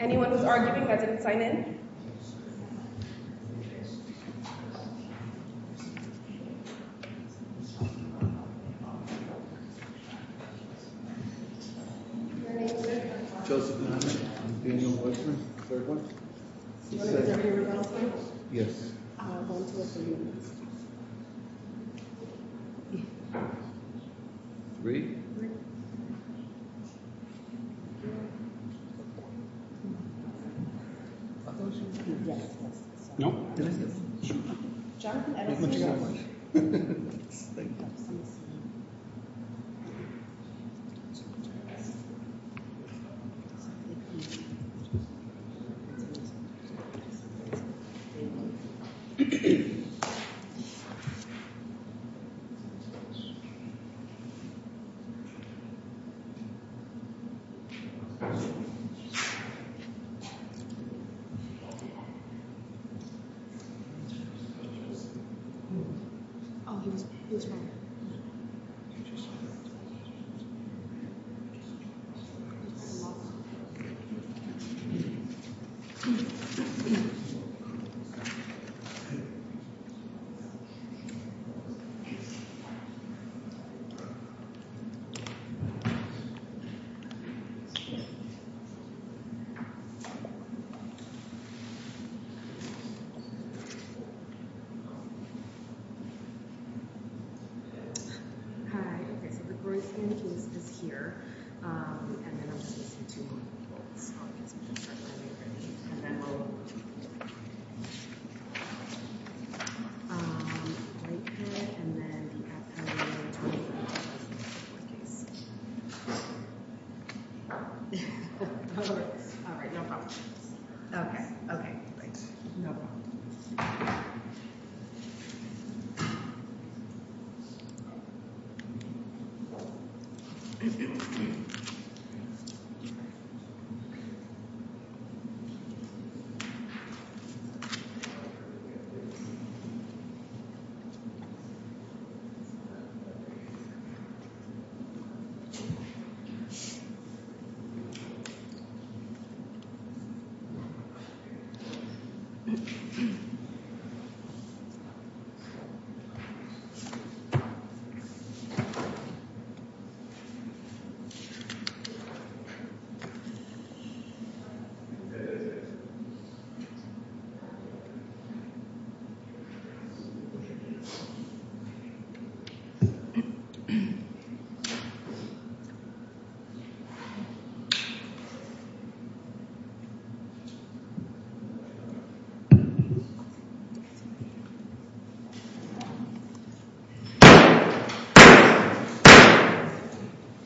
Anyone who's arguing that didn't sign in? Your name, sir? Joseph Duhamel. I'm Daniel Weissman. Third one? Is that your last name? Yes. One, two, three, and four. Three? Yes. No? John? Thank you very much. Thank you. Oh, he was wrong. Hi. Okay, so the Grosvenor case is here. Um, and then I'm just going to say two more people. So I guess we can start when you're ready. And then we'll move to... Um, Blakehead, and then the Epstein-Lewis case. Okay. All right, no problem. Okay, okay. Great. No problem.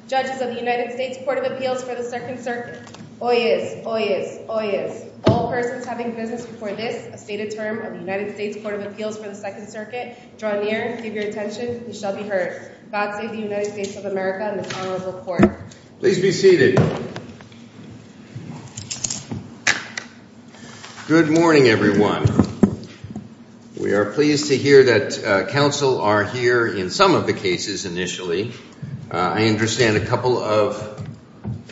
Judges of the United States Court of Appeals for the Second Circuit. Hoyes, hoyes, hoyes. All persons having business before this, a stated term of the United States Court of Appeals for the Second Circuit, draw near, give your attention, and shall be heard. God save the United States of America and the Congress of the Court. Please be seated. Good morning, everyone. We are pleased to hear that counsel are here in some of the cases initially. I understand a couple of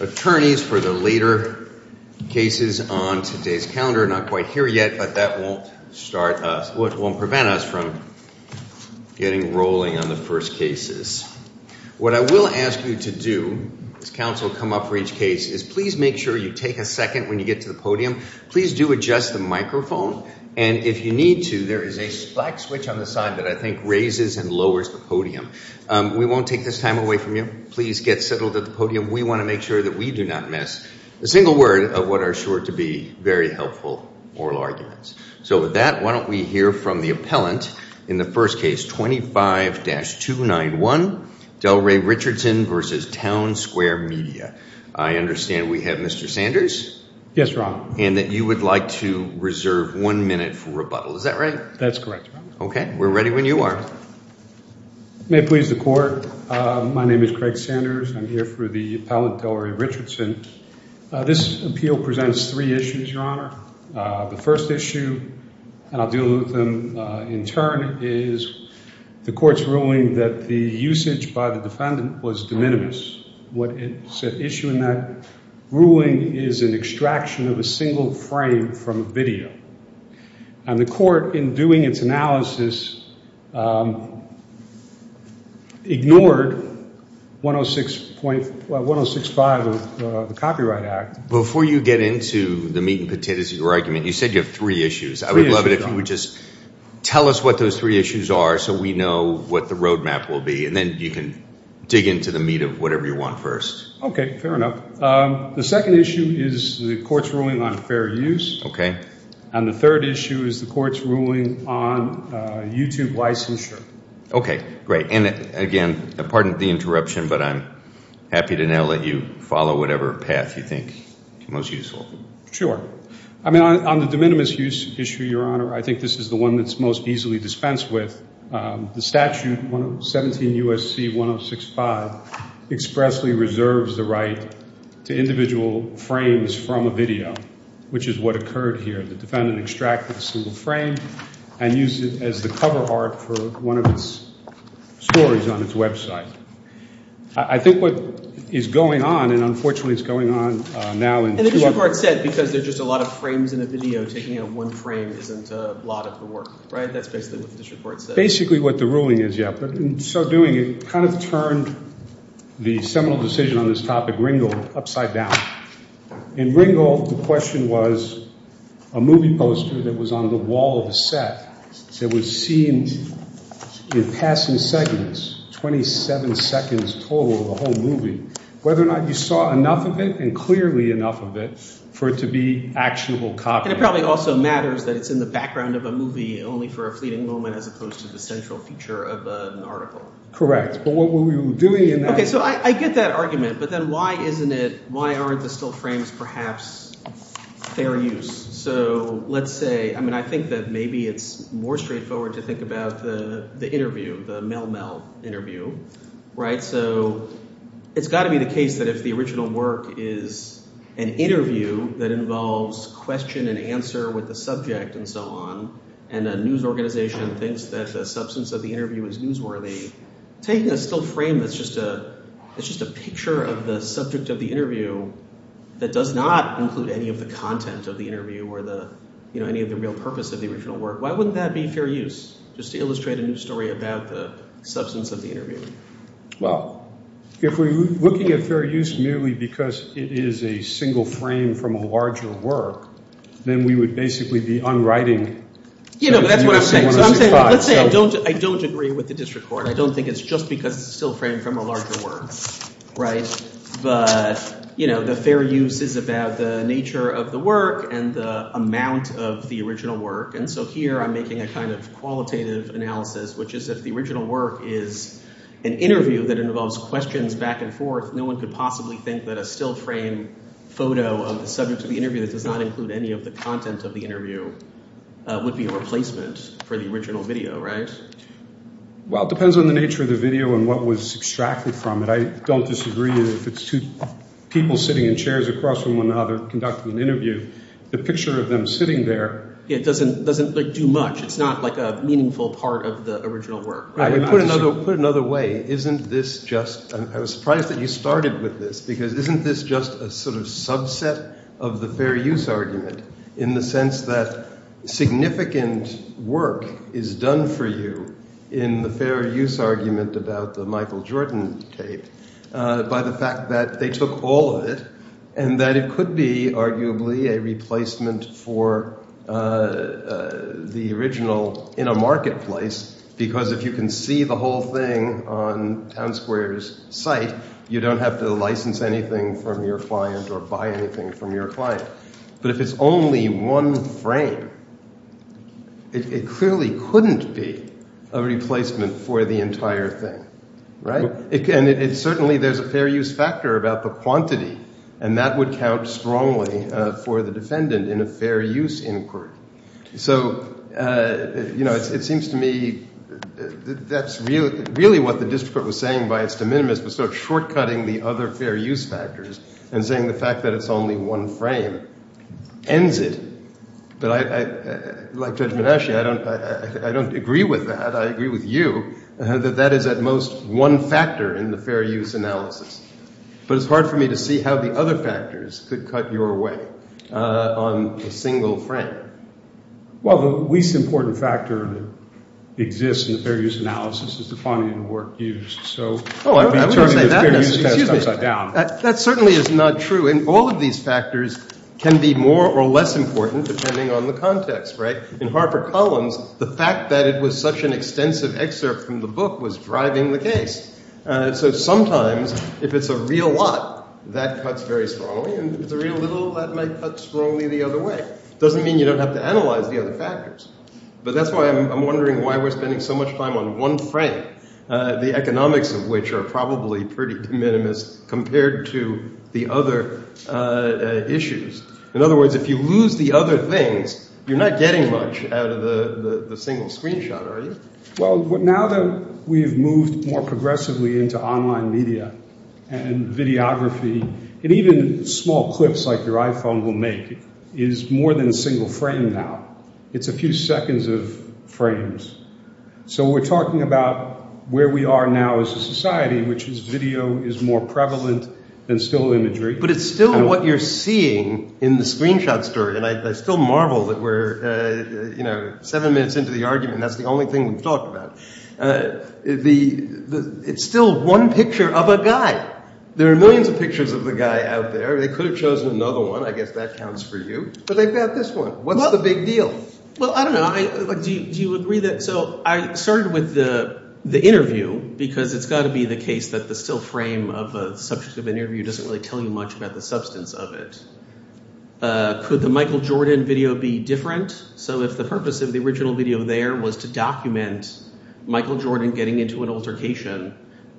attorneys for the later cases on today's calendar are not quite here yet, but that won't start us, but won't prevent us from getting rolling on the first cases. What I will ask you to do as counsel come up for each case is please make sure you take a second when you get to the podium. Please do adjust the microphone, and if you need to, there is a black switch on the side that I think raises and lowers the podium. We won't take this time away from you. Please get settled at the podium. We want to make sure that we do not miss a single word of what are sure to be very helpful oral arguments. So with that, why don't we hear from the appellant in the first case, 25-291, Delray Richardson v. Town Square Media. I understand we have Mr. Sanders? Yes, Your Honor. And that you would like to reserve one minute for rebuttal. Is that right? That's correct, Your Honor. Okay, we're ready when you are. May it please the Court, my name is Craig Sanders. I'm here for the appellant Delray Richardson. This appeal presents three issues, Your Honor. The first issue, and I'll deal with them in turn, is the Court's ruling that the usage by the defendant was de minimis. What is at issue in that ruling is an extraction of a single frame from a video. And the Court, in doing its analysis, ignored 106.5 of the Copyright Act. Before you get into the meat and potatoes of your argument, you said you have three issues. I would love it if you would just tell us what those three issues are so we know what the roadmap will be, and then you can dig into the meat of whatever you want first. Okay, fair enough. The second issue is the Court's ruling on fair use. Okay. And the third issue is the Court's ruling on YouTube licensure. Okay, great. And, again, pardon the interruption, but I'm happy to now let you follow whatever path you think is most useful. I mean, on the de minimis issue, Your Honor, I think this is the one that's most easily dispensed with. The statute, 17 U.S.C. 106.5, expressly reserves the right to individual frames from a video, which is what occurred here. The defendant extracted a single frame and used it as the cover art for one of its stories on its website. I think what is going on, and, unfortunately, it's going on now. And the district court said because there's just a lot of frames in a video, taking out one frame isn't a lot of the work, right? That's basically what the district court said. Basically what the ruling is, yeah, but in so doing it kind of turned the seminal decision on this topic, Ringel, upside down. In Ringel, the question was a movie poster that was on the wall of a set that was seen in passing seconds, 27 seconds total of the whole movie, whether or not you saw enough of it and clearly enough of it for it to be actionable copy. And it probably also matters that it's in the background of a movie only for a fleeting moment as opposed to the central feature of an article. Correct, but what we were doing in that… OK, so I get that argument. But then why isn't it – why aren't the still frames perhaps fair use? So let's say – I mean I think that maybe it's more straightforward to think about the interview, the Mel-Mel interview, right? So it's got to be the case that if the original work is an interview that involves question and answer with the subject and so on and a news organization thinks that the substance of the interview is newsworthy, taking a still frame that's just a picture of the subject of the interview that does not include any of the content of the interview or any of the real purpose of the original work, why wouldn't that be fair use just to illustrate a news story about the substance of the interview? Well, if we're looking at fair use merely because it is a single frame from a larger work, then we would basically be unwriting… You know, that's what I'm saying. So I'm saying – let's say I don't agree with the district court. I don't think it's just because it's a still frame from a larger work, right? But the fair use is about the nature of the work and the amount of the original work. And so here I'm making a kind of qualitative analysis, which is if the original work is an interview that involves questions back and forth, no one could possibly think that a still frame photo of the subject of the interview that does not include any of the content of the interview would be a replacement for the original video, right? Well, it depends on the nature of the video and what was extracted from it. I don't disagree if it's two people sitting in chairs across from one another conducting an interview. The picture of them sitting there doesn't do much. It's not like a meaningful part of the original work. Put it another way. Isn't this just – I was surprised that you started with this because isn't this just a sort of subset of the fair use argument in the sense that significant work is done for you in the fair use argument about the Michael Jordan tape by the fact that they took all of it and that it could be arguably a replacement for the original in a marketplace because if you can see the whole thing on Town Square's site, you don't have to license anything from your client or buy anything from your client. But if it's only one frame, it clearly couldn't be a replacement for the entire thing, right? And certainly there's a fair use factor about the quantity and that would count strongly for the defendant in a fair use inquiry. So, you know, it seems to me that's really what the district court was saying by its de minimis was sort of short-cutting the other fair use factors and saying the fact that it's only one frame ends it. But like Judge Manasci, I don't agree with that. I agree with you that that is at most one factor in the fair use analysis. But it's hard for me to see how the other factors could cut your way on a single frame. Well, the least important factor that exists in the fair use analysis is the quantity of the work used. Oh, I wouldn't say that. Excuse me. That certainly is not true. And all of these factors can be more or less important depending on the context, right? In Harper Collins, the fact that it was such an extensive excerpt from the book was driving the case. So sometimes if it's a real lot, that cuts very strongly, and if it's a real little, that might cut strongly the other way. It doesn't mean you don't have to analyze the other factors. But that's why I'm wondering why we're spending so much time on one frame, the economics of which are probably pretty de minimis compared to the other issues. In other words, if you lose the other things, you're not getting much out of the single screenshot, are you? Well, now that we've moved more progressively into online media and videography, and even small clips like your iPhone will make is more than a single frame now. It's a few seconds of frames. So we're talking about where we are now as a society, which is video is more prevalent than still imagery. But it's still what you're seeing in the screenshot story. And I still marvel that we're seven minutes into the argument. That's the only thing we've talked about. It's still one picture of a guy. There are millions of pictures of the guy out there. They could have chosen another one. I guess that counts for you. But they've got this one. What's the big deal? Well, I don't know. Do you agree that? So I started with the interview because it's got to be the case that the still frame of a subject of an interview doesn't really tell you much about the substance of it. Could the Michael Jordan video be different? So if the purpose of the original video there was to document Michael Jordan getting into an altercation,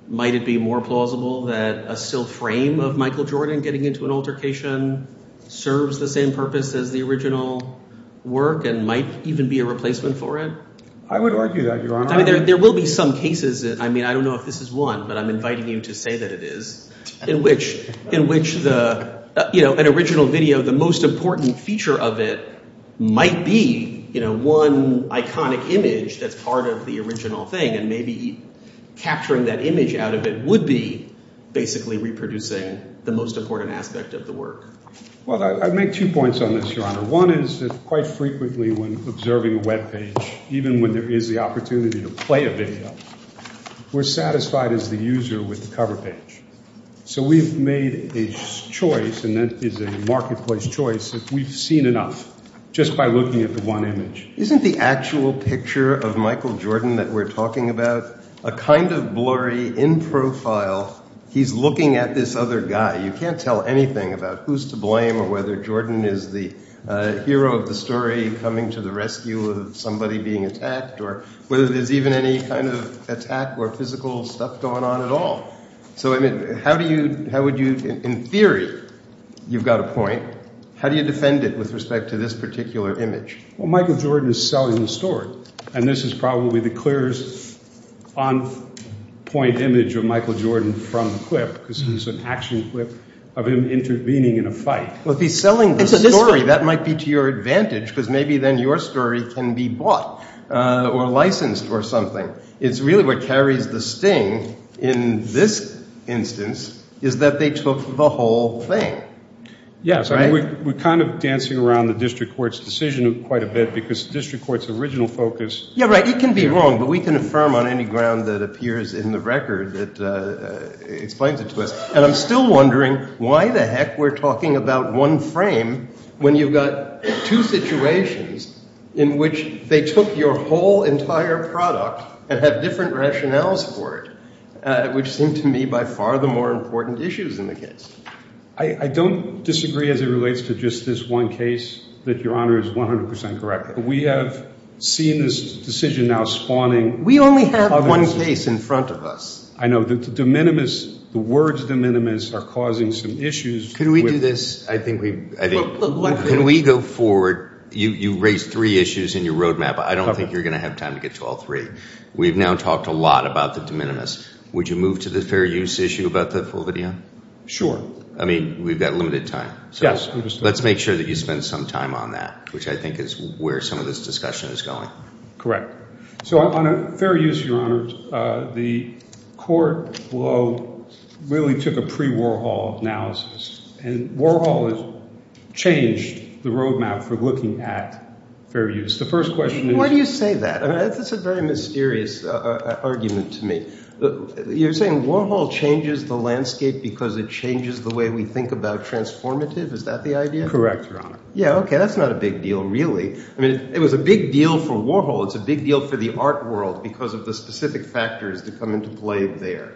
might it be more plausible that a still frame of Michael Jordan getting into an altercation serves the same purpose as the original work and might even be a replacement for it? I would argue that, Your Honor. There will be some cases. I mean, I don't know if this is one, but I'm inviting you to say that it is, in which an original video, the most important feature of it might be one iconic image that's part of the original thing. And maybe capturing that image out of it would be basically reproducing the most important aspect of the work. Well, I'd make two points on this, Your Honor. One is that quite frequently when observing a web page, even when there is the opportunity to play a video, we're satisfied as the user with the cover page. So we've made a choice, and that is a marketplace choice, that we've seen enough just by looking at the one image. Isn't the actual picture of Michael Jordan that we're talking about a kind of blurry in profile? He's looking at this other guy. You can't tell anything about who's to blame or whether Jordan is the hero of the story coming to the rescue of somebody being attacked or whether there's even any kind of attack or physical stuff going on at all. So, I mean, how would you, in theory, you've got a point, how do you defend it with respect to this particular image? Well, Michael Jordan is selling the story, and this is probably the clearest on-point image of Michael Jordan from the clip because it's an action clip of him intervening in a fight. Well, if he's selling the story, that might be to your advantage because maybe then your story can be bought or licensed or something. It's really what carries the sting in this instance is that they took the whole thing. Yes, I mean, we're kind of dancing around the district court's decision quite a bit because the district court's original focus. Yeah, right. It can be wrong, but we can affirm on any ground that appears in the record that explains it to us. And I'm still wondering why the heck we're talking about one frame when you've got two situations in which they took your whole entire product and have different rationales for it, which seem to me by far the more important issues in the case. I don't disagree as it relates to just this one case that Your Honor is 100 percent correct, but we have seen this decision now spawning other issues. We only have one case in front of us. I know. The de minimis, the words de minimis are causing some issues. Can we do this? I think we've – Can we go forward? You raised three issues in your roadmap. I don't think you're going to have time to get to all three. We've now talked a lot about the de minimis. Would you move to the fair use issue about the full video? Sure. I mean, we've got limited time. Yes. Let's make sure that you spend some time on that, which I think is where some of this discussion is going. Correct. So on fair use, Your Honor, the court really took a pre-Warhol analysis, and Warhol has changed the roadmap for looking at fair use. Why do you say that? That's a very mysterious argument to me. You're saying Warhol changes the landscape because it changes the way we think about transformative? Is that the idea? Correct, Your Honor. Yeah, okay. That's not a big deal really. I mean, it was a big deal for Warhol. It's a big deal for the art world because of the specific factors that come into play there.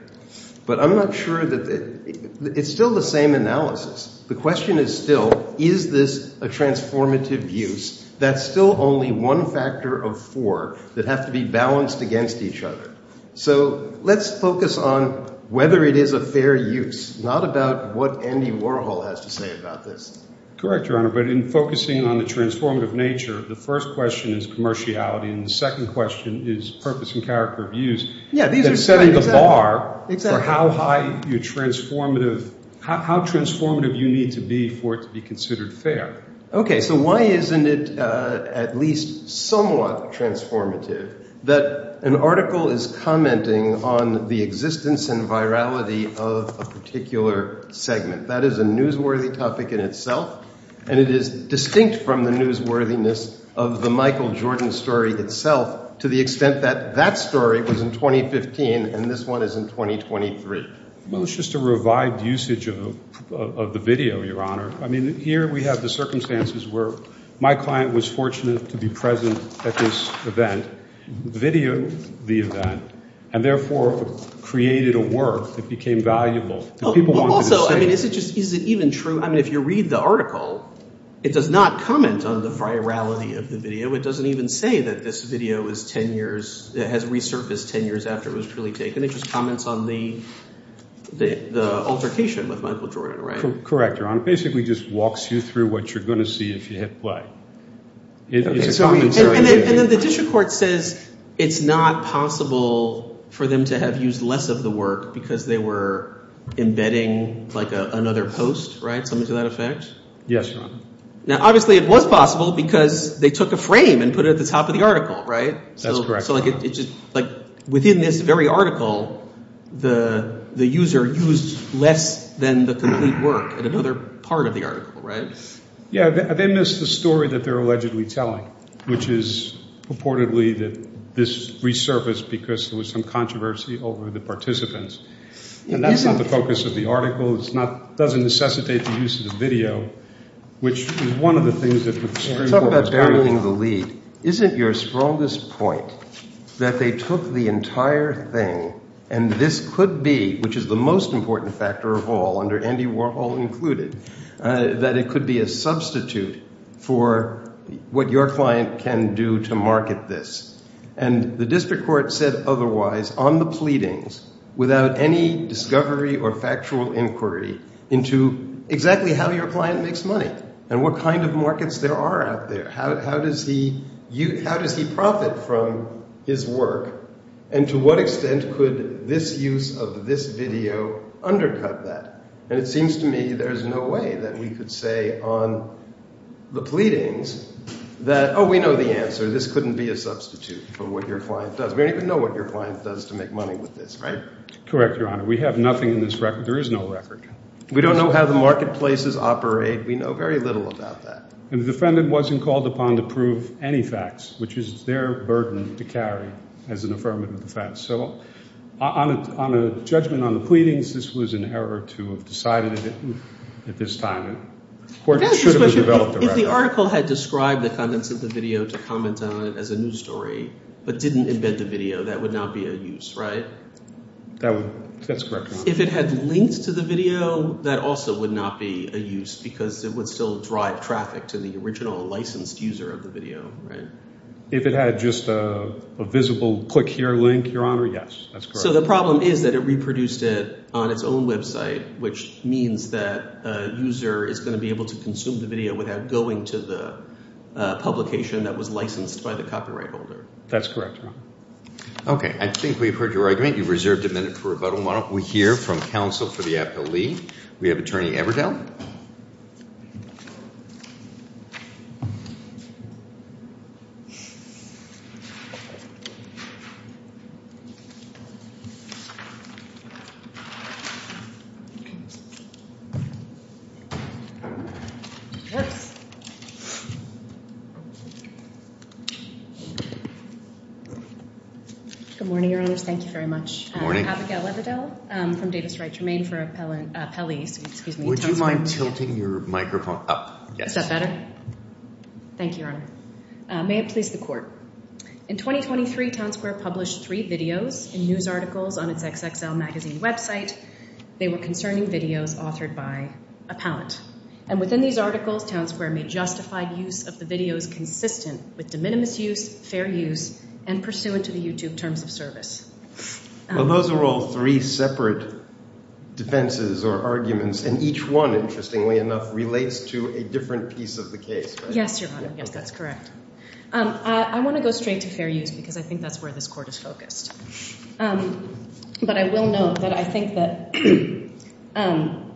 But I'm not sure that – it's still the same analysis. The question is still, is this a transformative use? That's still only one factor of four that have to be balanced against each other. So let's focus on whether it is a fair use, not about what Andy Warhol has to say about this. Correct, Your Honor. But in focusing on the transformative nature, the first question is commerciality, and the second question is purpose and character of use. Yeah, these are – They're setting the bar for how high your transformative – how transformative you need to be for it to be considered fair. Okay, so why isn't it at least somewhat transformative that an article is commenting on the existence and virality of a particular segment? That is a newsworthy topic in itself, and it is distinct from the newsworthiness of the Michael Jordan story itself to the extent that that story was in 2015 and this one is in 2023. Well, it's just a revived usage of the video, Your Honor. I mean, here we have the circumstances where my client was fortunate to be present at this event, videoed the event, and therefore created a work that became valuable. Also, I mean, is it even true – I mean if you read the article, it does not comment on the virality of the video. It doesn't even say that this video is 10 years – has resurfaced 10 years after it was really taken. It just comments on the altercation with Michael Jordan, right? Correct, Your Honor. It basically just walks you through what you're going to see if you hit play. And then the district court says it's not possible for them to have used less of the work because they were embedding like another post, right, something to that effect? Yes, Your Honor. Now obviously it was possible because they took a frame and put it at the top of the article, right? That's correct, Your Honor. So like within this very article, the user used less than the complete work at another part of the article, right? Yeah, they missed the story that they're allegedly telling, which is purportedly that this resurfaced because there was some controversy over the participants. And that's not the focus of the article. It doesn't necessitate the use of the video, which is one of the things that the district court is arguing about. Isn't your strongest point that they took the entire thing and this could be, which is the most important factor of all under Andy Warhol included, that it could be a substitute for what your client can do to market this? And the district court said otherwise on the pleadings without any discovery or factual inquiry into exactly how your client makes money and what kind of markets there are out there. How does he profit from his work? And to what extent could this use of this video undercut that? And it seems to me there's no way that we could say on the pleadings that, oh, we know the answer. This couldn't be a substitute for what your client does. We don't even know what your client does to make money with this, right? Correct, Your Honor. We have nothing in this record. There is no record. We don't know how the marketplaces operate. We know very little about that. And the defendant wasn't called upon to prove any facts, which is their burden to carry as an affirmative defense. So on a judgment on the pleadings, this was an error to have decided it at this time. The court should have developed a record. If the article had described the contents of the video to comment on it as a news story but didn't embed the video, that would not be a use, right? That's correct, Your Honor. If it had links to the video, that also would not be a use because it would still drive traffic to the original licensed user of the video, right? If it had just a visible click here link, Your Honor, yes, that's correct. So the problem is that it reproduced it on its own website, which means that a user is going to be able to consume the video without going to the publication that was licensed by the copyright holder. That's correct, Your Honor. Okay. I think we've heard your argument. You've reserved a minute for rebuttal. Why don't we hear from counsel for the appellee? We have Attorney Everdell. Good morning, Your Honors. Thank you very much. Abigail Everdell from Davis Wright Germaine for appellees. Would you mind tilting your microphone up? Is that better? Thank you, Your Honor. May it please the court. In 2023, Town Square published three videos and news articles on its XXL Magazine website. They were concerning videos authored by a palant. And within these articles, Town Square made justified use of the videos consistent with de minimis use, fair use, and pursuant to the YouTube terms of service. Well, those are all three separate defenses or arguments. And each one, interestingly enough, relates to a different piece of the case, right? Yes, Your Honor. Yes, that's correct. I want to go straight to fair use because I think that's where this court is focused. But I will note that I think that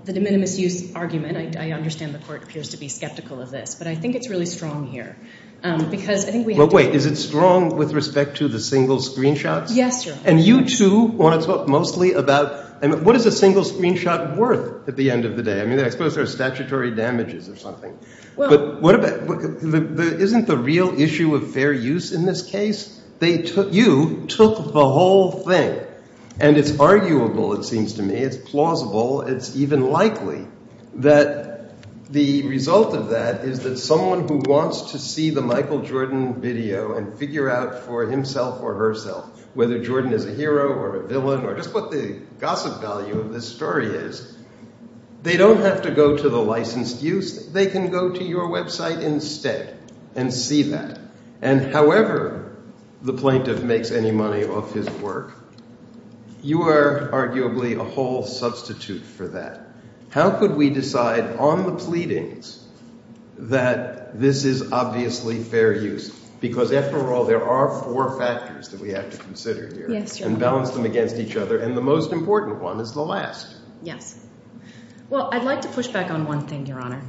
the de minimis use argument, I understand the court appears to be skeptical of this. But I think it's really strong here because I think we have to— Well, wait. Is it strong with respect to the single screenshots? Yes, Your Honor. And you, too, want to talk mostly about what is a single screenshot worth at the end of the day? I mean, I suppose there are statutory damages or something. But what about—isn't the real issue of fair use in this case? They took—you took the whole thing. And it's arguable, it seems to me. It's plausible. It's even likely that the result of that is that someone who wants to see the Michael Jordan video and figure out for himself or herself whether Jordan is a hero or a villain or just what the gossip value of this story is, they don't have to go to the licensed use. They can go to your website instead and see that. And however the plaintiff makes any money off his work, you are arguably a whole substitute for that. How could we decide on the pleadings that this is obviously fair use because, after all, there are four factors that we have to consider here. Yes, Your Honor. And balance them against each other. And the most important one is the last. Yes. Well, I'd like to push back on one thing, Your Honor.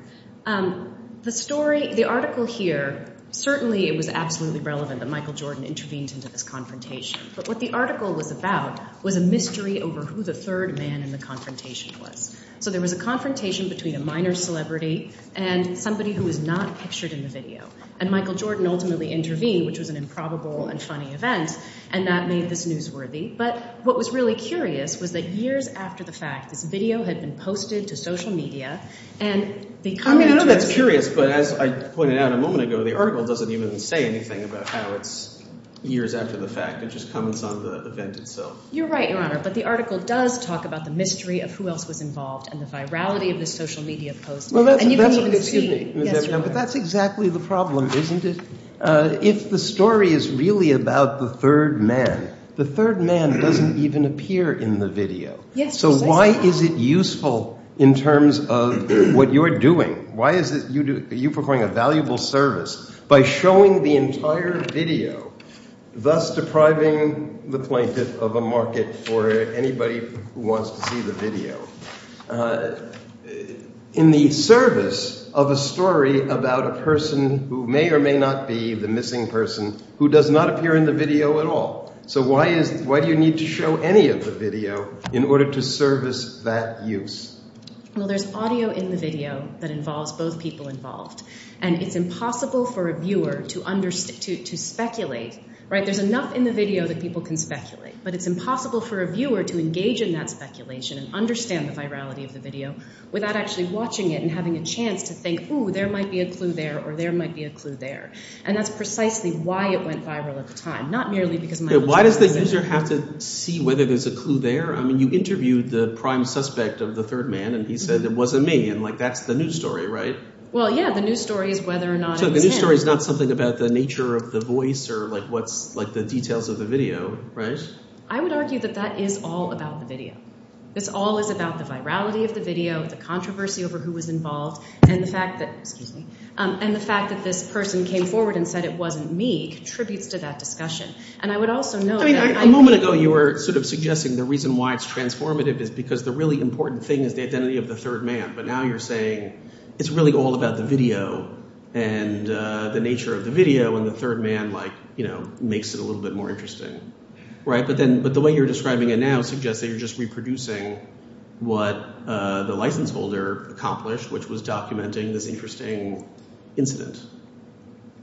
The story—the article here, certainly it was absolutely relevant that Michael Jordan intervened into this confrontation. But what the article was about was a mystery over who the third man in the confrontation was. So there was a confrontation between a minor celebrity and somebody who was not pictured in the video. And Michael Jordan ultimately intervened, which was an improbable and funny event, and that made this newsworthy. But what was really curious was that years after the fact, this video had been posted to social media. I mean, I know that's curious, but as I pointed out a moment ago, the article doesn't even say anything about how it's years after the fact. It just comments on the event itself. You're right, Your Honor. But the article does talk about the mystery of who else was involved and the virality of this social media post. But that's exactly the problem, isn't it? If the story is really about the third man, the third man doesn't even appear in the video. So why is it useful in terms of what you're doing? Why is it you're performing a valuable service by showing the entire video, thus depriving the plaintiff of a market for anybody who wants to see the video? In the service of a story about a person who may or may not be the missing person who does not appear in the video at all. So why do you need to show any of the video in order to service that use? Well, there's audio in the video that involves both people involved, and it's impossible for a viewer to speculate. There's enough in the video that people can speculate, but it's impossible for a viewer to engage in that speculation and understand the virality of the video without actually watching it and having a chance to think, ooh, there might be a clue there, or there might be a clue there. And that's precisely why it went viral at the time, not merely because of my… Why does the user have to see whether there's a clue there? I mean you interviewed the prime suspect of the third man, and he said it wasn't me, and that's the news story, right? Well, yeah, the news story is whether or not it was him. The news story is not something about the nature of the voice or what's – like the details of the video, right? I would argue that that is all about the video. This all is about the virality of the video, the controversy over who was involved, and the fact that – excuse me – and the fact that this person came forward and said it wasn't me contributes to that discussion. And I would also note that I – A moment ago you were sort of suggesting the reason why it's transformative is because the really important thing is the identity of the third man. But now you're saying it's really all about the video and the nature of the video, and the third man like makes it a little bit more interesting, right? But then – but the way you're describing it now suggests that you're just reproducing what the license holder accomplished, which was documenting this interesting incident.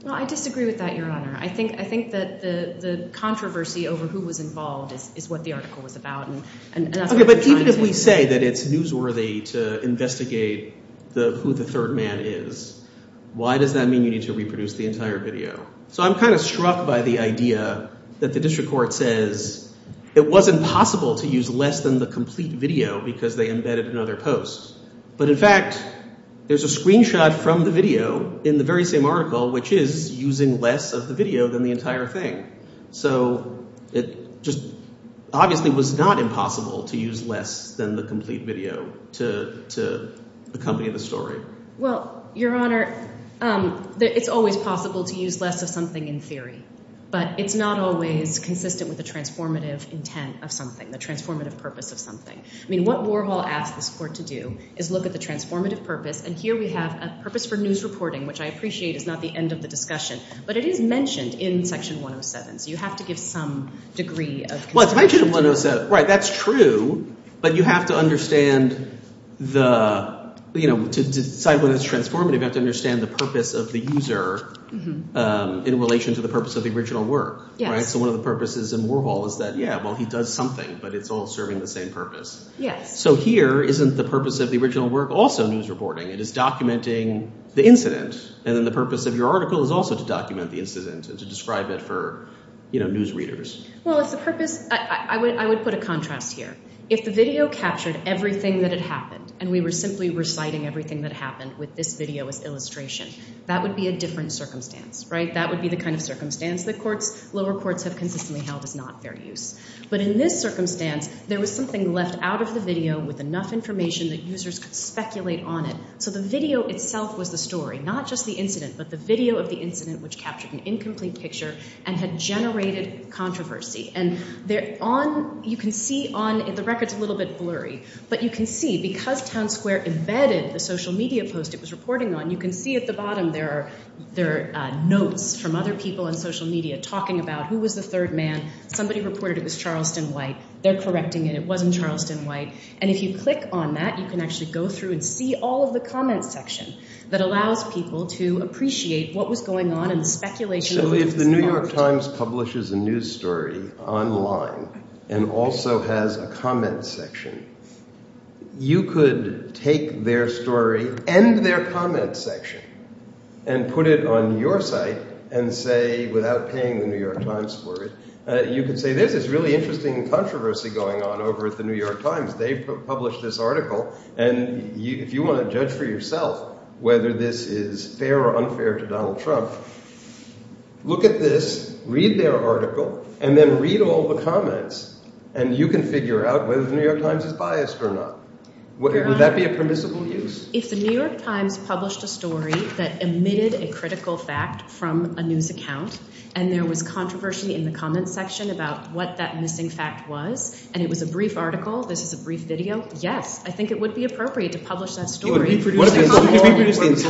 Well, I disagree with that, Your Honor. I think that the controversy over who was involved is what the article was about. Okay, but even if we say that it's newsworthy to investigate who the third man is, why does that mean you need to reproduce the entire video? So I'm kind of struck by the idea that the district court says it wasn't possible to use less than the complete video because they embedded another post. But in fact, there's a screenshot from the video in the very same article which is using less of the video than the entire thing. So it just obviously was not impossible to use less than the complete video to accompany the story. Well, Your Honor, it's always possible to use less of something in theory, but it's not always consistent with the transformative intent of something, the transformative purpose of something. I mean what Warhol asked this court to do is look at the transformative purpose, and here we have a purpose for news reporting, which I appreciate is not the end of the discussion, but it is mentioned in Section 107, so you have to give some degree of consistency. Well, it's mentioned in 107. Right, that's true. But you have to understand the – to decide whether it's transformative, you have to understand the purpose of the user in relation to the purpose of the original work. Yes. So one of the purposes in Warhol is that, yeah, well, he does something, but it's all serving the same purpose. Yes. So here isn't the purpose of the original work also news reporting? It is documenting the incident, and then the purpose of your article is also to document the incident and to describe it for news readers. Well, it's the purpose – I would put a contrast here. If the video captured everything that had happened and we were simply reciting everything that happened with this video as illustration, that would be a different circumstance, right? That would be the kind of circumstance that lower courts have consistently held as not fair use. But in this circumstance, there was something left out of the video with enough information that users could speculate on it. So the video itself was the story, not just the incident, but the video of the incident which captured an incomplete picture and had generated controversy. And you can see on – the record's a little bit blurry, but you can see because Town Square embedded the social media post it was reporting on, you can see at the bottom there are notes from other people on social media talking about who was the third man. Somebody reported it was Charleston White. They're correcting it. It wasn't Charleston White. And if you click on that, you can actually go through and see all of the comment section that allows people to appreciate what was going on and speculation. So if the New York Times publishes a news story online and also has a comment section, you could take their story and their comment section and put it on your site and say without paying the New York Times for it, you could say there's this really interesting controversy going on over at the New York Times. They've published this article, and if you want to judge for yourself whether this is fair or unfair to Donald Trump, look at this, read their article, and then read all the comments, and you can figure out whether the New York Times is biased or not. Would that be a permissible use? If the New York Times published a story that omitted a critical fact from a news account and there was controversy in the comment section about what that missing fact was and it was a brief article, this is a brief video, yes, I think it would be appropriate to publish that story. What if it's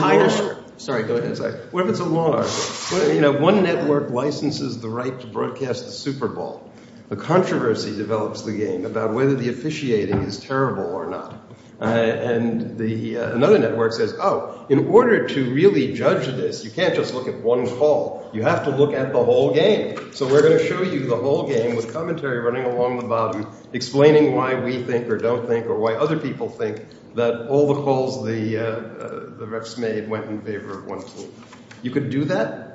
a long article? One network licenses the right to broadcast the Super Bowl. A controversy develops the game about whether the officiating is terrible or not. And another network says, oh, in order to really judge this, you can't just look at one call. You have to look at the whole game. So we're going to show you the whole game with commentary running along the bottom explaining why we think or don't think or why other people think that all the calls the refs made went in favor of one team. You could do that?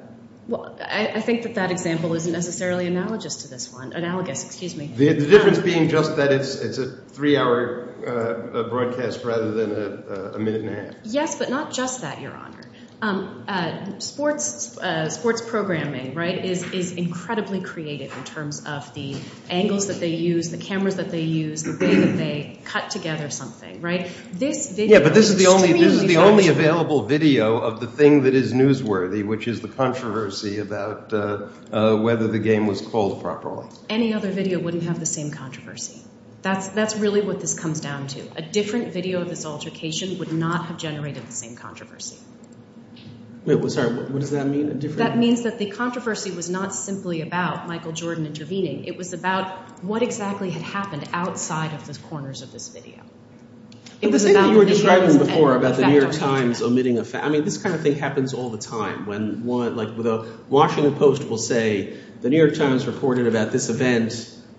Well, I think that that example isn't necessarily analogous to this one. Analogous, excuse me. The difference being just that it's a three-hour broadcast rather than a minute and a half. Yes, but not just that, Your Honor. Sports programming, right, is incredibly creative in terms of the angles that they use, the cameras that they use, the way that they cut together something, right? Yeah, but this is the only available video of the thing that is newsworthy, which is the controversy about whether the game was called properly. Any other video wouldn't have the same controversy. That's really what this comes down to. A different video of this altercation would not have generated the same controversy. Sorry, what does that mean? That means that the controversy was not simply about Michael Jordan intervening. It was about what exactly had happened outside of the corners of this video. The same thing you were describing before about the New York Times omitting a fact. I mean this kind of thing happens all the time. The Washington Post will say the New York Times reported about this event.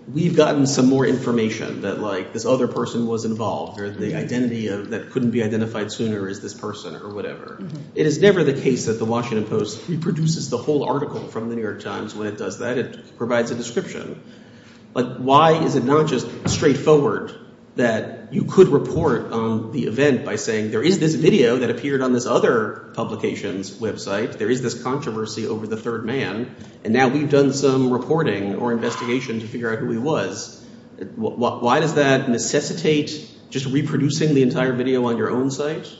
And we've gotten some more information that, like, this other person was involved or the identity that couldn't be identified sooner is this person or whatever. It is never the case that the Washington Post reproduces the whole article from the New York Times. When it does that, it provides a description. But why is it not just straightforward that you could report the event by saying there is this video that appeared on this other publication's website, there is this controversy over the third man, and now we've done some reporting or investigation to figure out who he was. Why does that necessitate just reproducing the entire video on your own site?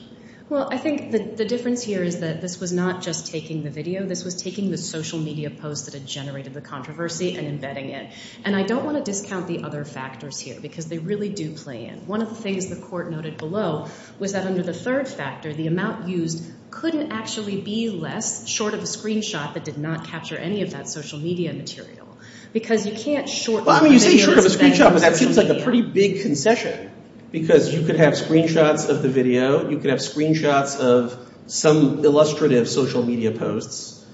Well, I think the difference here is that this was not just taking the video. This was taking the social media post that had generated the controversy and embedding it. And I don't want to discount the other factors here because they really do play in. One of the things the court noted below was that under the third factor, the amount used couldn't actually be less short of a screenshot that did not capture any of that social media material because you can't short the video. Well, I mean you say short of a screenshot, but that seems like a pretty big concession because you could have screenshots of the video. You could have screenshots of some illustrative social media posts,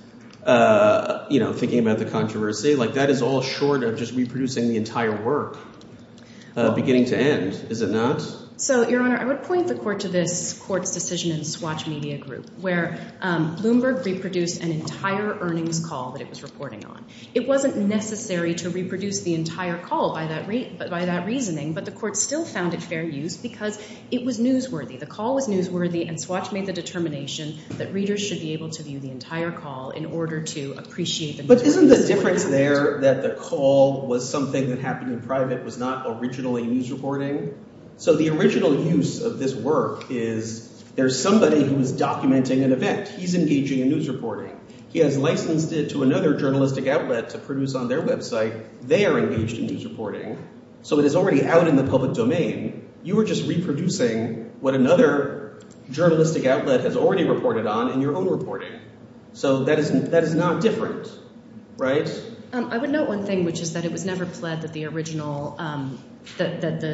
you know, thinking about the controversy. Like that is all short of just reproducing the entire work beginning to end, is it not? So, Your Honor, I would point the court to this court's decision in Swatch Media Group where Bloomberg reproduced an entire earnings call that it was reporting on. It wasn't necessary to reproduce the entire call by that reasoning, but the court still found it fair use because it was newsworthy. The call was newsworthy and Swatch made the determination that readers should be able to view the entire call in order to appreciate them. But isn't the difference there that the call was something that happened in private and it was not originally news reporting? So the original use of this work is there's somebody who is documenting an event. He's engaging in news reporting. He has licensed it to another journalistic outlet to produce on their website. They are engaged in news reporting. So it is already out in the public domain. You are just reproducing what another journalistic outlet has already reported on in your own reporting. So that is not different, right? I would note one thing, which is that it was never pled that the original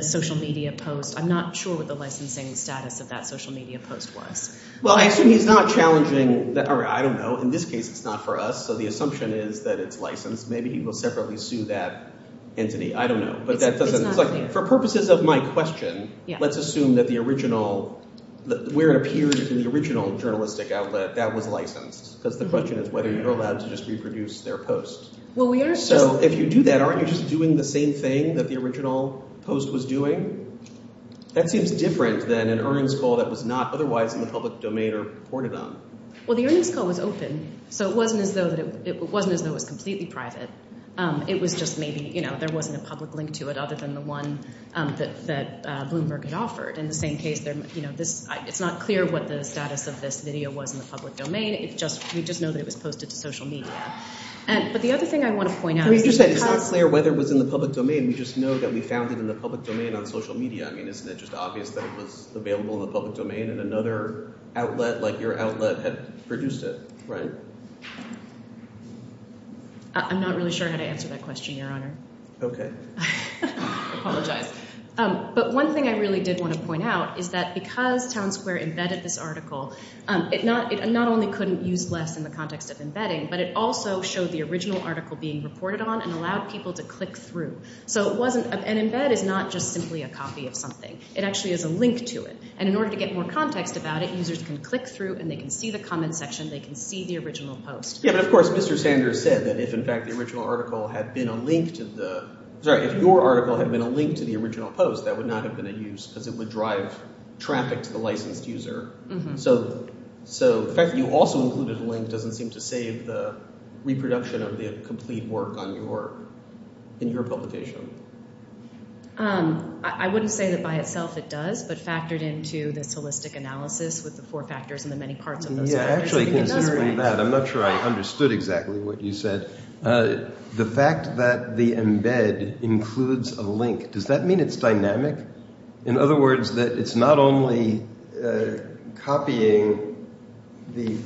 social media post, I'm not sure what the licensing status of that social media post was. Well, I assume he's not challenging. I don't know. In this case, it's not for us. So the assumption is that it's licensed. Maybe he will separately sue that entity. I don't know. It's not clear. For purposes of my question, let's assume that the original, where it appeared in the original journalistic outlet, that was licensed because the question is whether you're allowed to just reproduce their post. So if you do that, aren't you just doing the same thing that the original post was doing? That seems different than an earnings call that was not otherwise in the public domain or reported on. Well, the earnings call was open, so it wasn't as though it was completely private. It was just maybe there wasn't a public link to it other than the one that Bloomberg had offered. In the same case, it's not clear what the status of this video was in the public domain. We just know that it was posted to social media. But the other thing I want to point out is that it's not clear whether it was in the public domain. We just know that we found it in the public domain on social media. I mean, isn't it just obvious that it was available in the public domain and another outlet like your outlet had produced it, right? I'm not really sure how to answer that question, Your Honor. Okay. I apologize. But one thing I really did want to point out is that because Town Square embedded this article, it not only couldn't use less in the context of embedding, but it also showed the original article being reported on and allowed people to click through. So an embed is not just simply a copy of something. It actually is a link to it. And in order to get more context about it, users can click through and they can see the comment section. They can see the original post. Yeah, but of course Mr. Sanders said that if, in fact, the original article had been a link to the— sorry, if your article had been a link to the original post, that would not have been in use because it would drive traffic to the licensed user. So the fact that you also included a link doesn't seem to save the reproduction of the complete work in your publication. I wouldn't say that by itself it does, but factored into this holistic analysis with the four factors and the many parts of those factors, I think it does work. Yeah, actually, considering that, I'm not sure I understood exactly what you said. The fact that the embed includes a link, does that mean it's dynamic? In other words, that it's not only copying the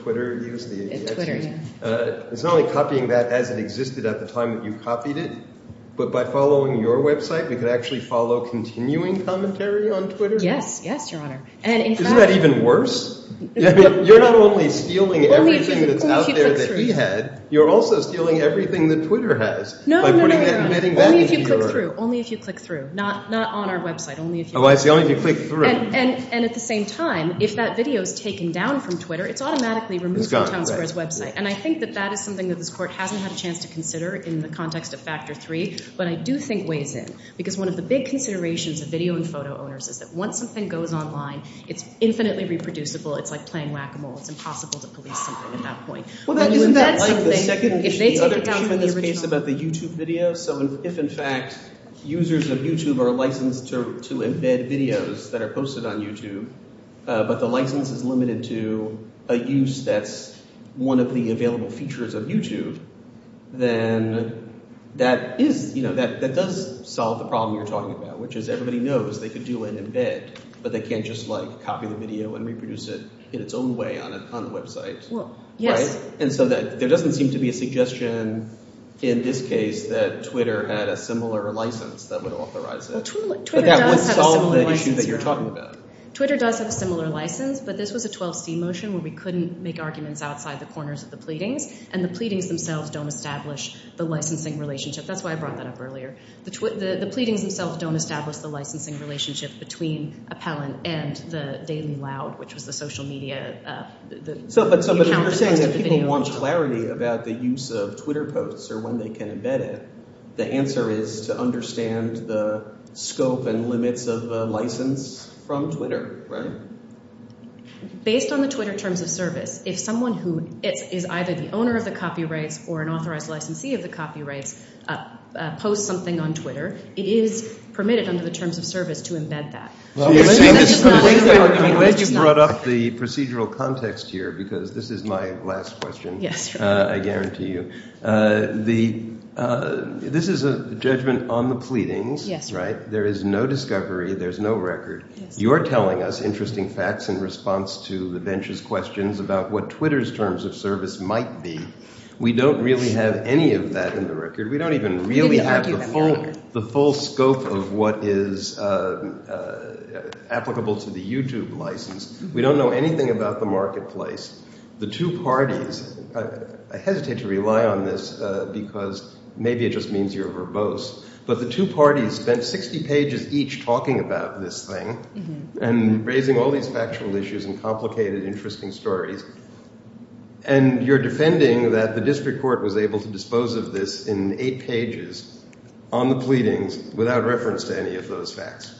Twitter use, it's not only copying that as it existed at the time that you copied it, but by following your website, we could actually follow continuing commentary on Twitter? Yes, yes, Your Honor. Isn't that even worse? You're not only stealing everything that's out there that he had, you're also stealing everything that Twitter has. No, no, no, Your Honor. Only if you click through. Not on our website. Oh, I see. Only if you click through. And at the same time, if that video is taken down from Twitter, it's automatically removed from Town Square's website. And I think that that is something that this Court hasn't had a chance to consider in the context of Factor 3, but I do think weighs in because one of the big considerations of video and photo owners is that once something goes online, it's infinitely reproducible. It's like playing whack-a-mole. It's impossible to police something at that point. Isn't that something, if they take it down from the original? The second issue, the other issue in this case about the YouTube video, so if, in fact, users of YouTube are licensed to embed videos that are posted on YouTube, but the license is limited to a use that's one of the available features of YouTube, then that does solve the problem you're talking about, which is everybody knows they can do an embed, but they can't just copy the video and reproduce it in its own way on the website. Well, yes. And so there doesn't seem to be a suggestion in this case that Twitter had a similar license that would authorize it. Twitter does have a similar license. But that would solve the issue that you're talking about. Twitter does have a similar license, but this was a 12C motion where we couldn't make arguments outside the corners of the pleadings, and the pleadings themselves don't establish the licensing relationship. That's why I brought that up earlier. The pleadings themselves don't establish the licensing relationship between Appellant and the Daily Loud, which was the social media account that posted the video. But you're saying that people want clarity about the use of Twitter posts or when they can embed it. The answer is to understand the scope and limits of the license from Twitter, right? Based on the Twitter terms of service, if someone who is either the owner of the copyrights or an authorized licensee of the copyrights posts something on Twitter, it is permitted under the terms of service to embed that. I'm glad you brought up the procedural context here because this is my last question, I guarantee you. This is a judgment on the pleadings, right? There is no discovery. There's no record. You're telling us interesting facts in response to the bench's questions about what Twitter's terms of service might be. We don't really have any of that in the record. We don't even really have the full scope of what is applicable to the YouTube license. We don't know anything about the marketplace. The two parties, I hesitate to rely on this because maybe it just means you're verbose, but the two parties spent 60 pages each talking about this thing and raising all these factual issues and complicated, interesting stories. And you're defending that the district court was able to dispose of this in eight pages on the pleadings without reference to any of those facts.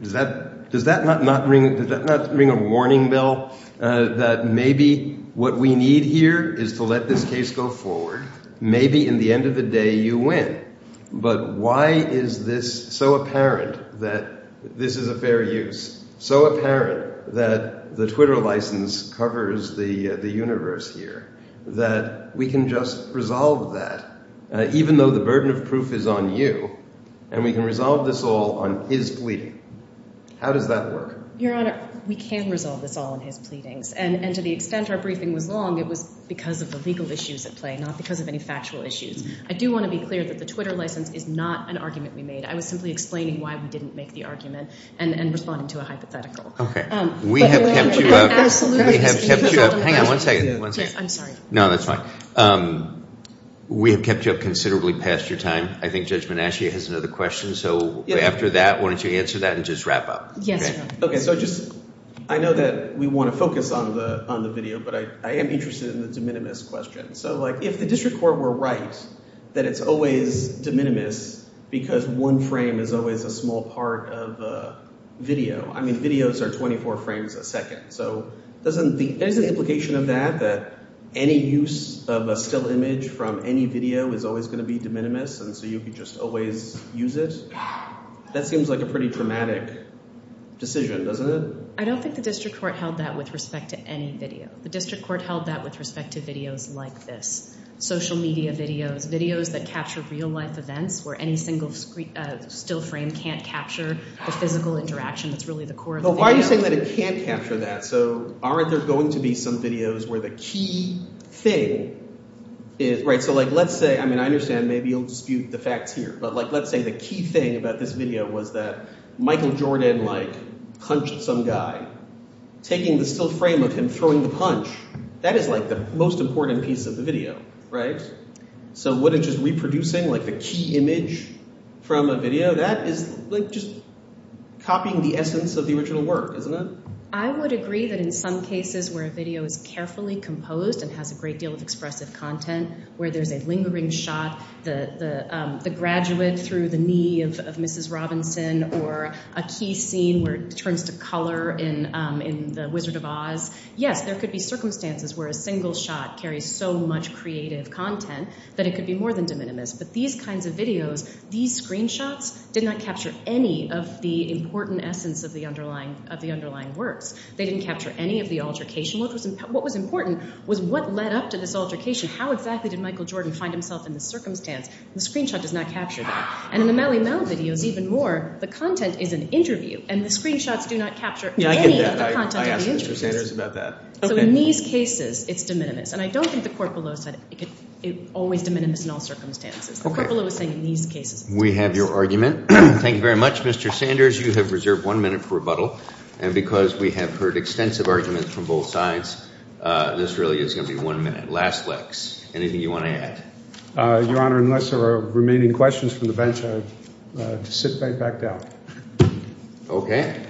Does that not ring a warning bell that maybe what we need here is to let this case go forward? Maybe in the end of the day you win. But why is this so apparent that this is a fair use, so apparent that the Twitter license covers the universe here, that we can just resolve that, even though the burden of proof is on you, and we can resolve this all on his pleading? How does that work? Your Honor, we can resolve this all on his pleadings. And to the extent our briefing was long, it was because of the legal issues at play, not because of any factual issues. I do want to be clear that the Twitter license is not an argument we made. I was simply explaining why we didn't make the argument and responding to a hypothetical. Okay. We have kept you up. Absolutely. We have kept you up. Hang on one second. I'm sorry. No, that's fine. We have kept you up considerably past your time. I think Judge Menachia has another question. So after that, why don't you answer that and just wrap up. Yes, Your Honor. Okay, so I know that we want to focus on the video, but I am interested in the de minimis question. So, like, if the district court were right that it's always de minimis because one frame is always a small part of a video. I mean, videos are 24 frames a second. So there's an implication of that, that any use of a still image from any video is always going to be de minimis, and so you could just always use it. That seems like a pretty dramatic decision, doesn't it? I don't think the district court held that with respect to any video. The district court held that with respect to videos like this, social media videos, videos that capture real-life events where any single still frame can't capture the physical interaction that's really the core of the video. But why are you saying that it can't capture that? So aren't there going to be some videos where the key thing is – right? So, like, let's say – I mean, I understand maybe you'll dispute the facts here, but, like, let's say the key thing about this video was that Michael Jordan, like, punched some guy. Taking the still frame of him throwing the punch, that is, like, the most important piece of the video, right? So wouldn't just reproducing, like, the key image from a video, that is, like, just copying the essence of the original work, isn't it? I would agree that in some cases where a video is carefully composed and has a great deal of expressive content, where there's a lingering shot, the graduate through the knee of Mrs. Robinson, or a key scene where it turns to color in The Wizard of Oz, yes, there could be circumstances where a single shot carries so much creative content that it could be more than de minimis. But these kinds of videos, these screenshots did not capture any of the important essence of the underlying works. They didn't capture any of the altercation. What was important was what led up to this altercation. How exactly did Michael Jordan find himself in this circumstance? The screenshot does not capture that. And in the Mally Mel videos even more, the content is an interview, and the screenshots do not capture any of the content of the interview. So in these cases, it's de minimis. And I don't think the court below said it could always be de minimis in all circumstances. The court below is saying in these cases. We have your argument. Thank you very much, Mr. Sanders. Mr. Sanders, you have reserved one minute for rebuttal. And because we have heard extensive arguments from both sides, this really is going to be one minute. Last lex. Anything you want to add? Your Honor, unless there are remaining questions from the bench, I would sit right back down. Okay.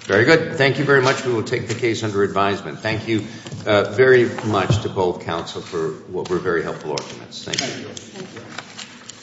Very good. Thank you very much. We will take the case under advisement. Thank you very much to both counsel for what were very helpful arguments. Thank you.